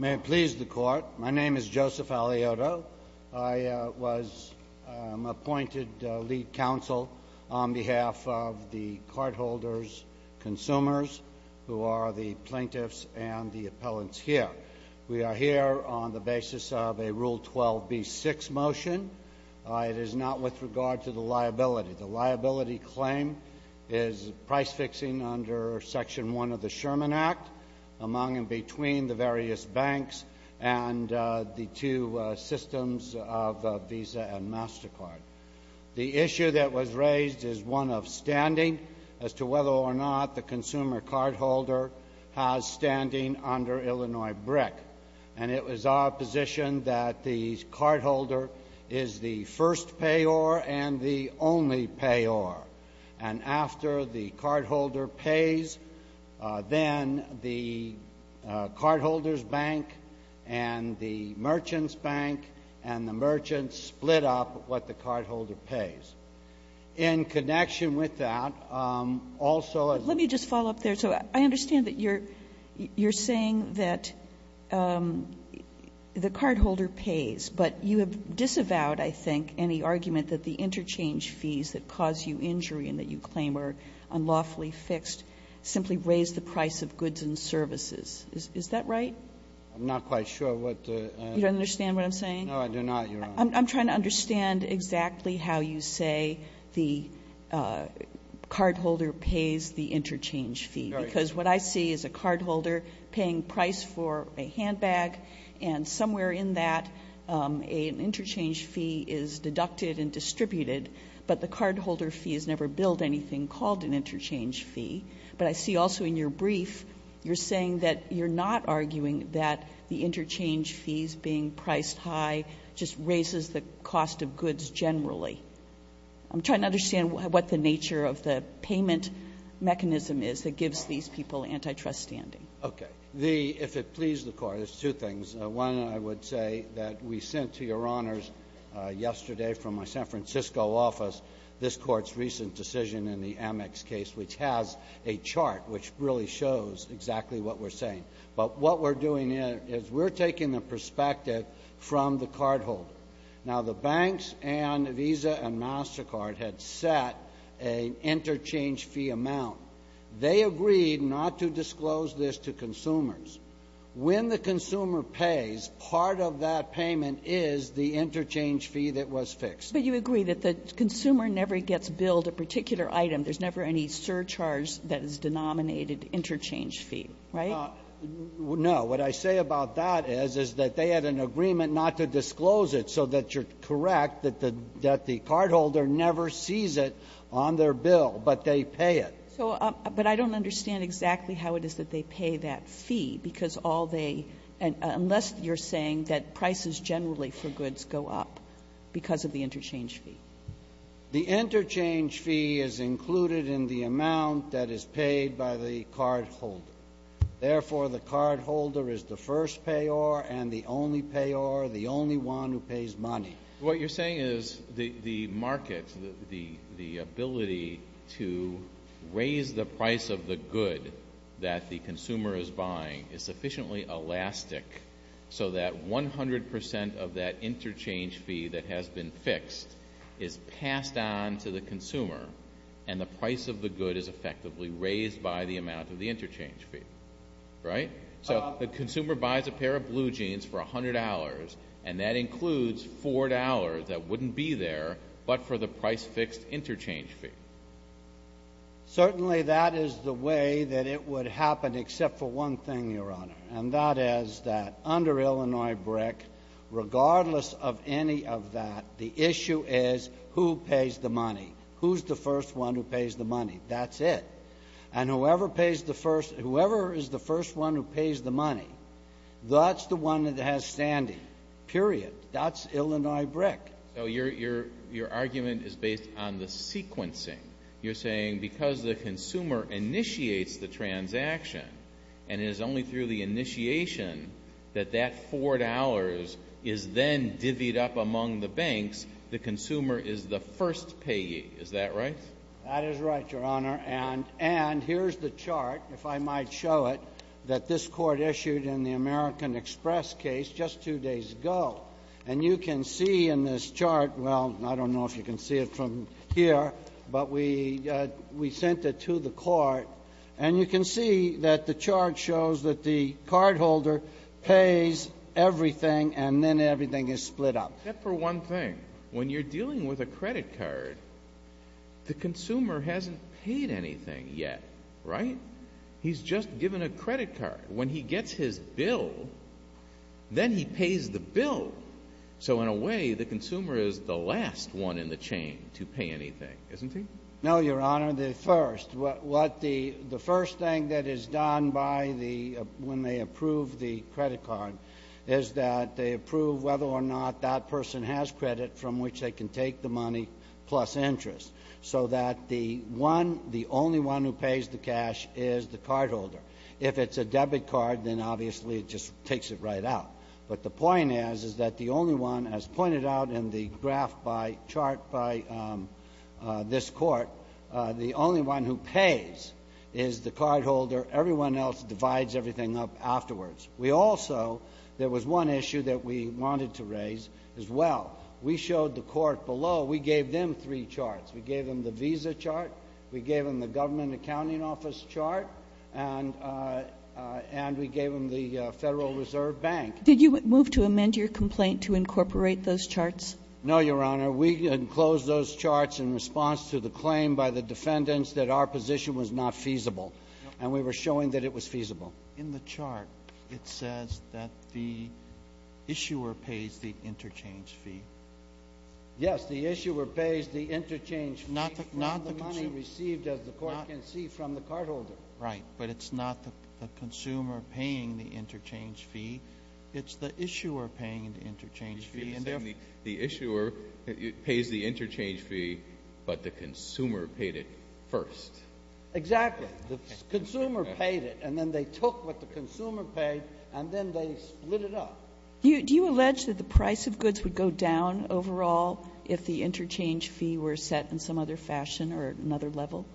May it please the Court, my name is Joseph Aliotto. I was appointed lead counsel on behalf of the cardholders, consumers, who are the plaintiffs and the appellants here. We are here on the basis of a Rule 12b6 motion. It is not with regard to the liability. The liability claim is price fixing under Section 1 of the Sherman Act among and between the various banks and the two systems of Visa and MasterCard. The issue that was raised is one of standing as to whether or not the consumer cardholder has standing under Illinois BRIC. And it was our position that the cardholder is the first payor and the only payor. And after the cardholder pays, then the cardholder's bank and the merchant's bank and the merchant split up what the cardholder pays. In connection with that, also as the plaintiff's bank and the merchant's bank and the merchant's split up what the cardholder pays. Kagan. Let me just follow up there. So I understand that you're saying that the cardholder pays. But you have disavowed, I think, any argument that the interchange fees that cause you injury and that you claim are unlawfully fixed simply raise the price of goods and services. Is that right? I'm not quite sure what the other one is. You don't understand what I'm saying? No, I do not, Your Honor. I'm trying to understand exactly how you say the cardholder pays the interchange fee. Because what I see is a cardholder paying price for a handbag, and somewhere in that, an interchange fee is deducted and distributed, but the cardholder fee has never billed anything called an interchange fee. But I see also in your brief, you're saying that you're not arguing that the interchange fees being priced high just raises the cost of goods generally. I'm trying to understand what the nature of the payment mechanism is that gives these people antitrust standing. Okay. The — if it pleases the Court, it's two things. One, I would say that we sent to Your Honors yesterday from my San Francisco office this Court's recent decision in the Amex case, which has a chart which really shows exactly what we're saying. But what we're doing here is we're taking the perspective from the cardholder. Now, the banks and Visa and MasterCard had set an interchange fee amount. They agreed not to disclose this to consumers. When the consumer pays, part of that payment is the interchange fee that was fixed. But you agree that the consumer never gets billed a particular item. There's never any surcharge that is denominated interchange fee, right? No. What I say about that is, is that they had an agreement not to disclose it, so that you're correct that the cardholder never sees it on their bill, but they pay it. So — but I don't understand exactly how it is that they pay that fee, because all they — unless you're saying that prices generally for goods go up because of the interchange fee. The interchange fee is included in the amount that is paid by the cardholder. Therefore, the cardholder is the first payer and the only payer, the only one who pays money. What you're saying is the market, the ability to raise the price of the good that the consumer is buying is sufficiently elastic so that 100 percent of that interchange fee that has been fixed is passed on to the consumer, and the price of the good is effectively raised by the amount of the interchange fee, right? So the consumer buys a pair of blue jeans for $100, and that includes $4 that wouldn't be there, but for the price-fixed interchange fee. Certainly, that is the way that it would happen, except for one thing, Your Honor, and that is that under Illinois BRIC, regardless of any of that, the issue is who pays the money. Who's the first one who pays the money? That's it. And whoever is the first one who pays the money, that's the one that has standing, period. That's Illinois BRIC. Your argument is based on the sequencing. You're saying because the consumer initiates the transaction, and it is only through the initiation that that $4 is then divvied up among the banks, the consumer is the first payee. Is that right? That is right, Your Honor, and here's the chart, if I might show it, that this court issued in the American Express case just two days ago. And you can see in this chart, well, I don't know if you can see it from here, but we sent it to the court, and you can see that the chart shows that the cardholder pays everything, and then everything is split up. Except for one thing. When you're dealing with a credit card, the consumer hasn't paid anything yet, right? He's just given a credit card. When he gets his bill, then he pays the bill. So in a way, the consumer is the last one in the chain to pay anything, isn't he? No, Your Honor, the first. The first thing that is done when they approve the credit card is that they approve whether or not that person has credit from which they can take the money plus interest, so that the one, the only one who pays the cash is the cardholder. If it's a debit card, then obviously it just takes it right out. But the point is, is that the only one, as pointed out in the graph by chart by this court, the only one who pays is the cardholder. Everyone else divides everything up afterwards. We also, there was one issue that we wanted to raise as well. We showed the court below, we gave them three charts. We gave them the visa chart, we gave them the government accounting office chart, and we gave them the Federal Reserve Bank. Did you move to amend your complaint to incorporate those charts? No, Your Honor. We enclosed those charts in response to the claim by the defendants that our position was not feasible, and we were showing that it was feasible. In the chart, it says that the issuer pays the interchange fee. Yes, the issuer pays the interchange fee from the money received, as the court can see, from the cardholder. Right, but it's not the consumer paying the interchange fee. It's the issuer paying the interchange fee. The issuer pays the interchange fee, but the consumer paid it first. Exactly. The consumer paid it, and then they took what the consumer paid, and then they split it up. Do you allege that the price of goods would go down overall if the interchange fee were set in some other fashion or another level?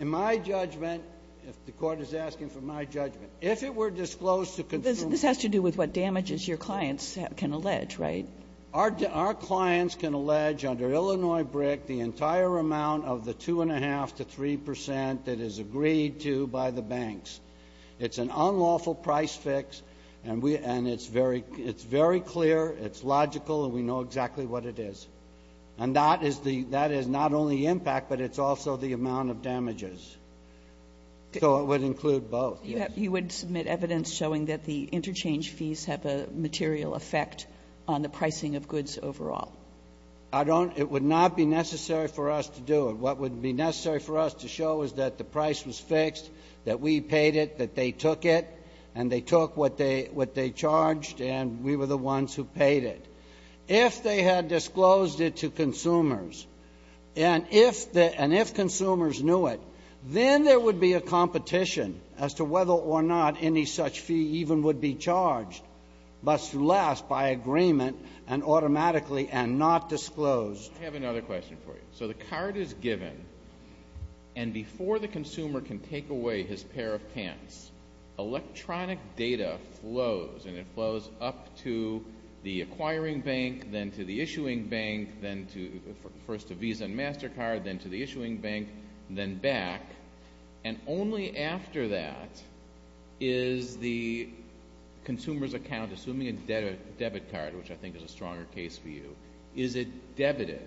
In my judgment, if the court is asking for my judgment, if it were disclosed to consumers- This has to do with what damages your clients can allege, right? Our clients can allege, under Illinois BRIC, the entire amount of the 2.5 to 3% that is agreed to by the banks. It's an unlawful price fix, and it's very clear, it's logical, and we know exactly what it is. And that is not only impact, but it's also the amount of damages, so it would include both, yes. You would submit evidence showing that the interchange fees have a material effect on the pricing of goods overall. I don't, it would not be necessary for us to do it. What would be necessary for us to show is that the price was fixed, that we paid it, that they took it, and they took what they charged, and we were the ones who paid it. If they had disclosed it to consumers, and if consumers knew it, then there would be a competition as to whether or not any such fee even would be charged, but to last by agreement and automatically and not disclosed. I have another question for you. So the card is given, and before the consumer can take away his pair of pants, electronic data flows, and it flows up to the acquiring bank, then to the issuing bank, then to, first to Visa and MasterCard, then to the issuing bank, then back, and only after that is the consumer's account, assuming a debit card, which I think is a stronger case for you, is it debited.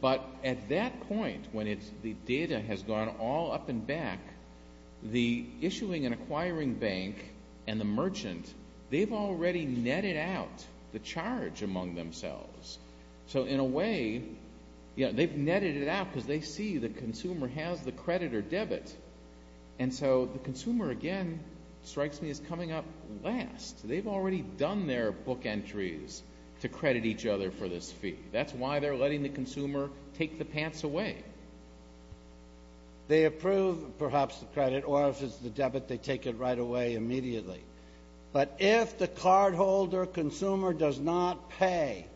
But at that point, when the data has gone all up and back, the issuing and acquiring bank and the merchant, they've already netted out the charge among themselves. So in a way, you know, they've netted it out because they see the consumer has the credit or debit, and so the consumer, again, strikes me as coming up last. They've already done their book entries to credit each other for this fee. That's why they're letting the consumer take the pants away. They approve, perhaps, the credit, or if it's the debit, they take it right away immediately. But if the cardholder consumer does not pay,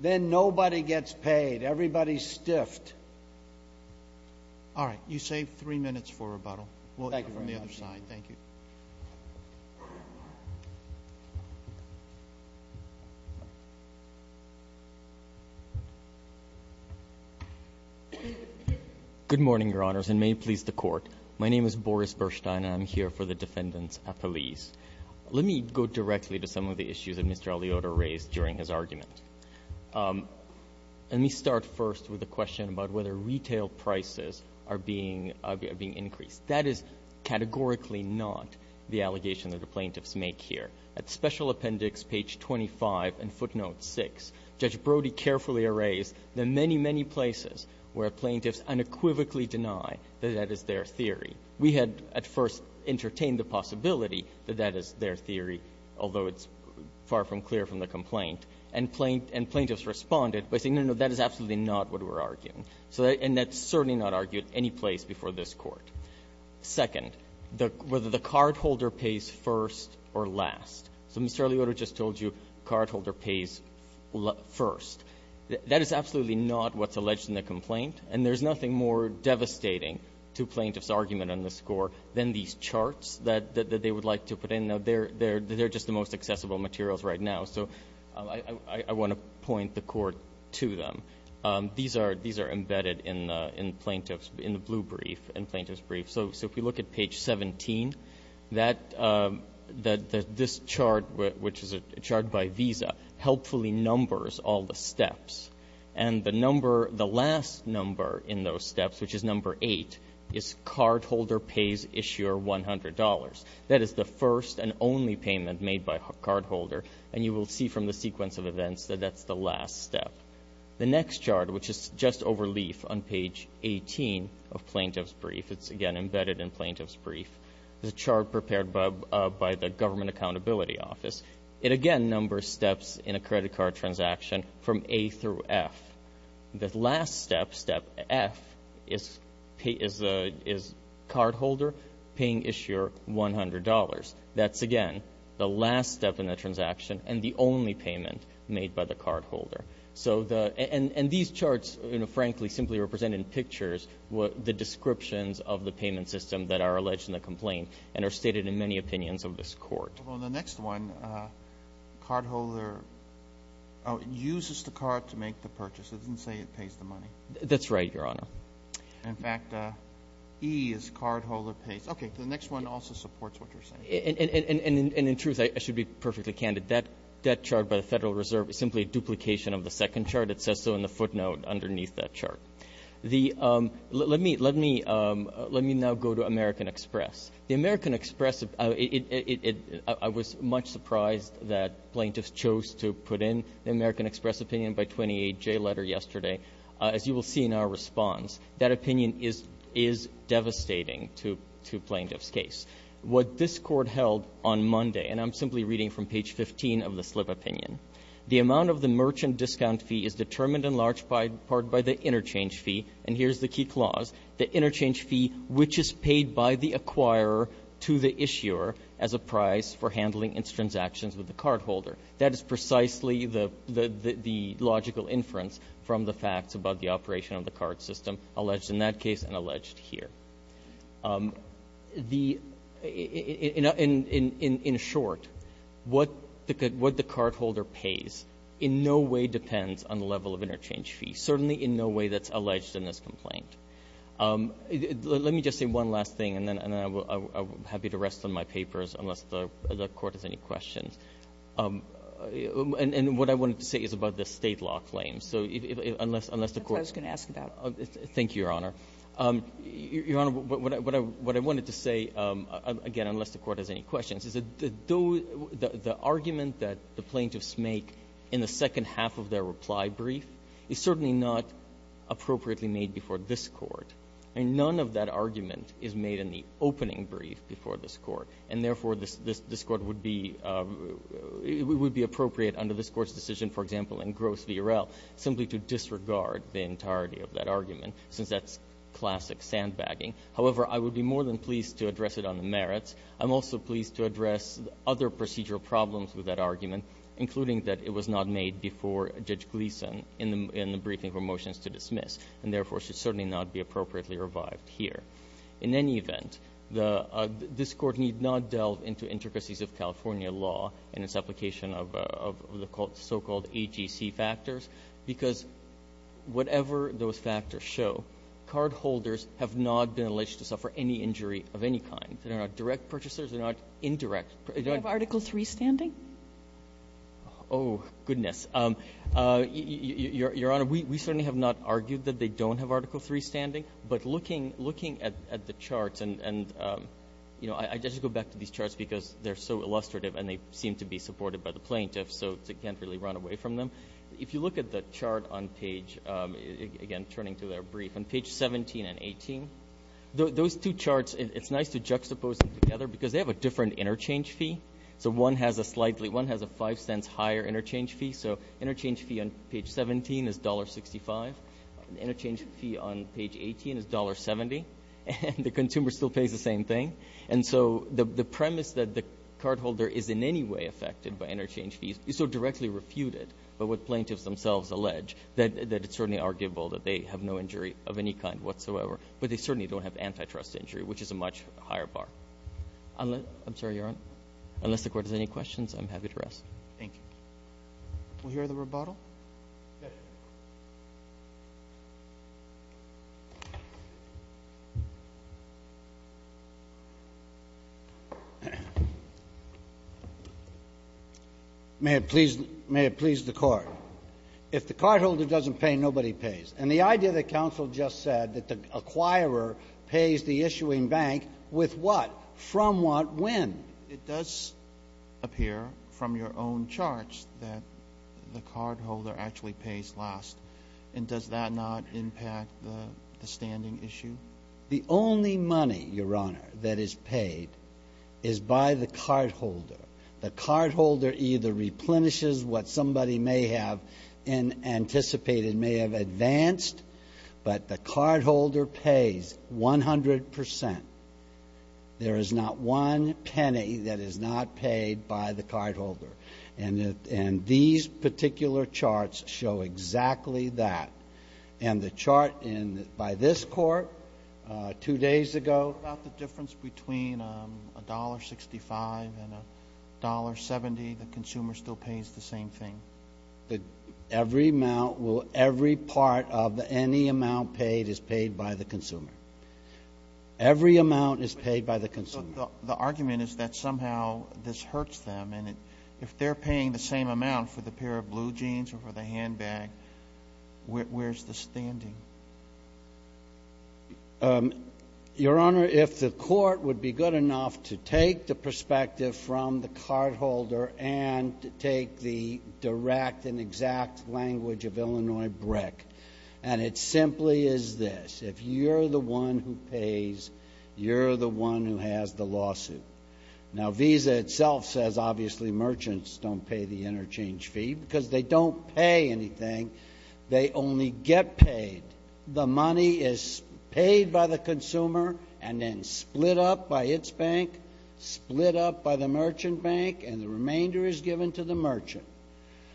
then nobody gets paid. Everybody's stiffed. All right. You saved three minutes for rebuttal. We'll go from the other side. Thank you. Good morning, Your Honors, and may it please the Court. My name is Boris Bershteyn, and I'm here for the defendants appellees. Let me go directly to some of the issues that Mr. Aliotta raised during his argument. Let me start first with the question about whether retail prices are being increased. That is categorically not the allegation that the plaintiffs make here. At Special Appendix page 25 and footnote 6, Judge Brody carefully erased the many, many places where plaintiffs unequivocally deny that that is their theory. We had, at first, entertained the possibility that that is their theory, although it's far from clear from the complaint. And plaintiffs responded by saying, no, no, that is absolutely not what we're arguing. And that's certainly not argued any place before this Court. Second, whether the cardholder pays first or last. So Mr. Aliotta just told you cardholder pays first. That is absolutely not what's alleged in the complaint, and there's nothing more devastating to plaintiffs' argument on the score than these charts that they would like to put in. They're just the most accessible materials right now. So I want to point the Court to them. These are embedded in the plaintiff's, in the blue brief, in the plaintiff's brief. So if we look at page 17, this chart, which is a chart by Visa, helpfully numbers all the steps. And the number, the last number in those steps, which is number eight, is cardholder pays issuer $100. That is the first and only payment made by a cardholder. And you will see from the sequence of events that that's the last step. The next chart, which is just overleaf on page 18 of plaintiff's brief, it's again embedded in plaintiff's brief. It's a chart prepared by the Government Accountability Office. It again numbers steps in a credit card transaction from A through F. The last step, step F, is cardholder paying issuer $100. That's again the last step in the transaction and the only payment made by the cardholder. So the, and these charts, frankly, simply represent in pictures what the descriptions of the payment system that are alleged in the complaint and are stated in many opinions of this court. Well, in the next one, cardholder uses the card to make the purchase. It doesn't say it pays the money. That's right, Your Honor. In fact, E is cardholder pays. Okay, the next one also supports what you're saying. And in truth, I should be perfectly candid. That chart by the Federal Reserve is simply a duplication of the second chart. It says so in the footnote underneath that chart. The, let me now go to American Express. The American Express, I was much surprised that plaintiffs chose to put in the American Express opinion by 28J letter yesterday. As you will see in our response, that opinion is devastating to plaintiffs' case. What this court held on Monday, and I'm simply reading from page 15 of the slip opinion. The amount of the merchant discount fee is determined in large part by the interchange fee. And here's the key clause. The interchange fee, which is paid by the acquirer to the issuer as a price for handling its transactions with the cardholder. That is precisely the logical inference from the facts about the operation of the card system, alleged in that case and alleged here. In short, what the cardholder pays in no way depends on the level of interchange fee. Certainly in no way that's alleged in this complaint. Let me just say one last thing, and then I'm happy to rest on my papers unless the court has any questions. And what I wanted to say is about the state law claim. So unless the court- That's what I was going to ask about. Thank you, Your Honor. Your Honor, what I wanted to say, again, unless the court has any questions, is that the argument that the plaintiffs make in the second half of their reply brief is certainly not appropriately made before this Court. And none of that argument is made in the opening brief before this Court. And therefore, this Court would be – it would be appropriate under this Court's decision, for example, in Gross v. Urel, simply to disregard the entirety of that argument, since that's classic sandbagging. However, I would be more than pleased to address it on the merits. I'm also pleased to address other procedural problems with that argument, including that it was not made before Judge Gleeson in the briefing for motions to dismiss, and therefore should certainly not be appropriately revived here. In any event, this Court need not delve into intricacies of California law in its application of the so-called AGC factors, because whatever those factors show, cardholders have not been alleged to suffer any injury of any kind. They're not direct purchasers. They're not indirect. Do you have Article III standing? Oh, goodness. Your Honor, we certainly have not argued that they don't have Article III standing. But looking at the charts and, you know, I just go back to these charts because they're so illustrative and they seem to be supported by the plaintiffs, so I can't really run away from them. If you look at the chart on page, again, turning to their brief, on page 17 and 18, those two charts, it's nice to juxtapose them together because they have a different interchange fee. So one has a slightly, one has a five cents higher interchange fee. So interchange fee on page 17 is $1.65. Interchange fee on page 18 is $1.70, and the consumer still pays the same thing. And so the premise that the cardholder is in any way affected by interchange fees is so directly refuted by what plaintiffs themselves allege that it's certainly arguable that they have no injury of any kind whatsoever. But they certainly don't have antitrust injury, which is a much higher bar. I'm sorry, Your Honor. Unless the court has any questions, I'm happy to rest. Thank you. We'll hear the rebuttal. May it please, may it please the court. If the cardholder doesn't pay, nobody pays. And the idea that counsel just said that the acquirer pays the issuing bank with what, from what, when? It does appear from your own charts that the cardholder actually pays last. And does that not impact the standing issue? The only money, Your Honor, that is paid is by the cardholder. The cardholder either replenishes what somebody may have anticipated, may have advanced. But the cardholder pays 100%. There is not one penny that is not paid by the cardholder. And these particular charts show exactly that. And the chart by this court, two days ago. About the difference between $1.65 and $1.70, the consumer still pays the same thing. Every amount, every part of any amount paid is paid by the consumer. Every amount is paid by the consumer. The argument is that somehow this hurts them. And if they're paying the same amount for the pair of blue jeans or for the handbag, where's the standing? Your Honor, if the court would be good enough to take the perspective from the cardholder and take the direct and exact language of Illinois BRIC. And it simply is this. If you're the one who pays, you're the one who has the lawsuit. Now Visa itself says obviously merchants don't pay the interchange fee because they don't pay anything. They only get paid. The money is paid by the consumer and then split up by its bank, split up by the merchant bank, and the remainder is given to the merchant.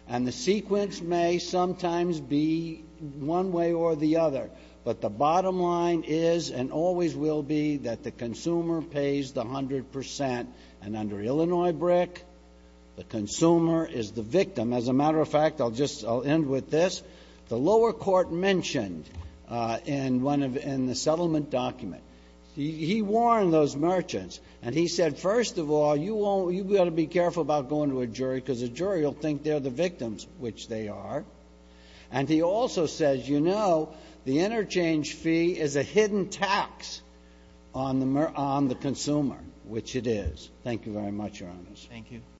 And the sequence may sometimes be one way or the other. But the bottom line is and always will be that the consumer pays the 100%. And under Illinois BRIC, the consumer is the victim. As a matter of fact, I'll just end with this. The lower court mentioned in the settlement document, he warned those merchants. And he said, first of all, you've got to be careful about going to a jury because a jury will think they're the victims, which they are. And he also says, you know, the interchange fee is a hidden tax on the consumer, which it is. Thank you very much, Your Honors. Thank you.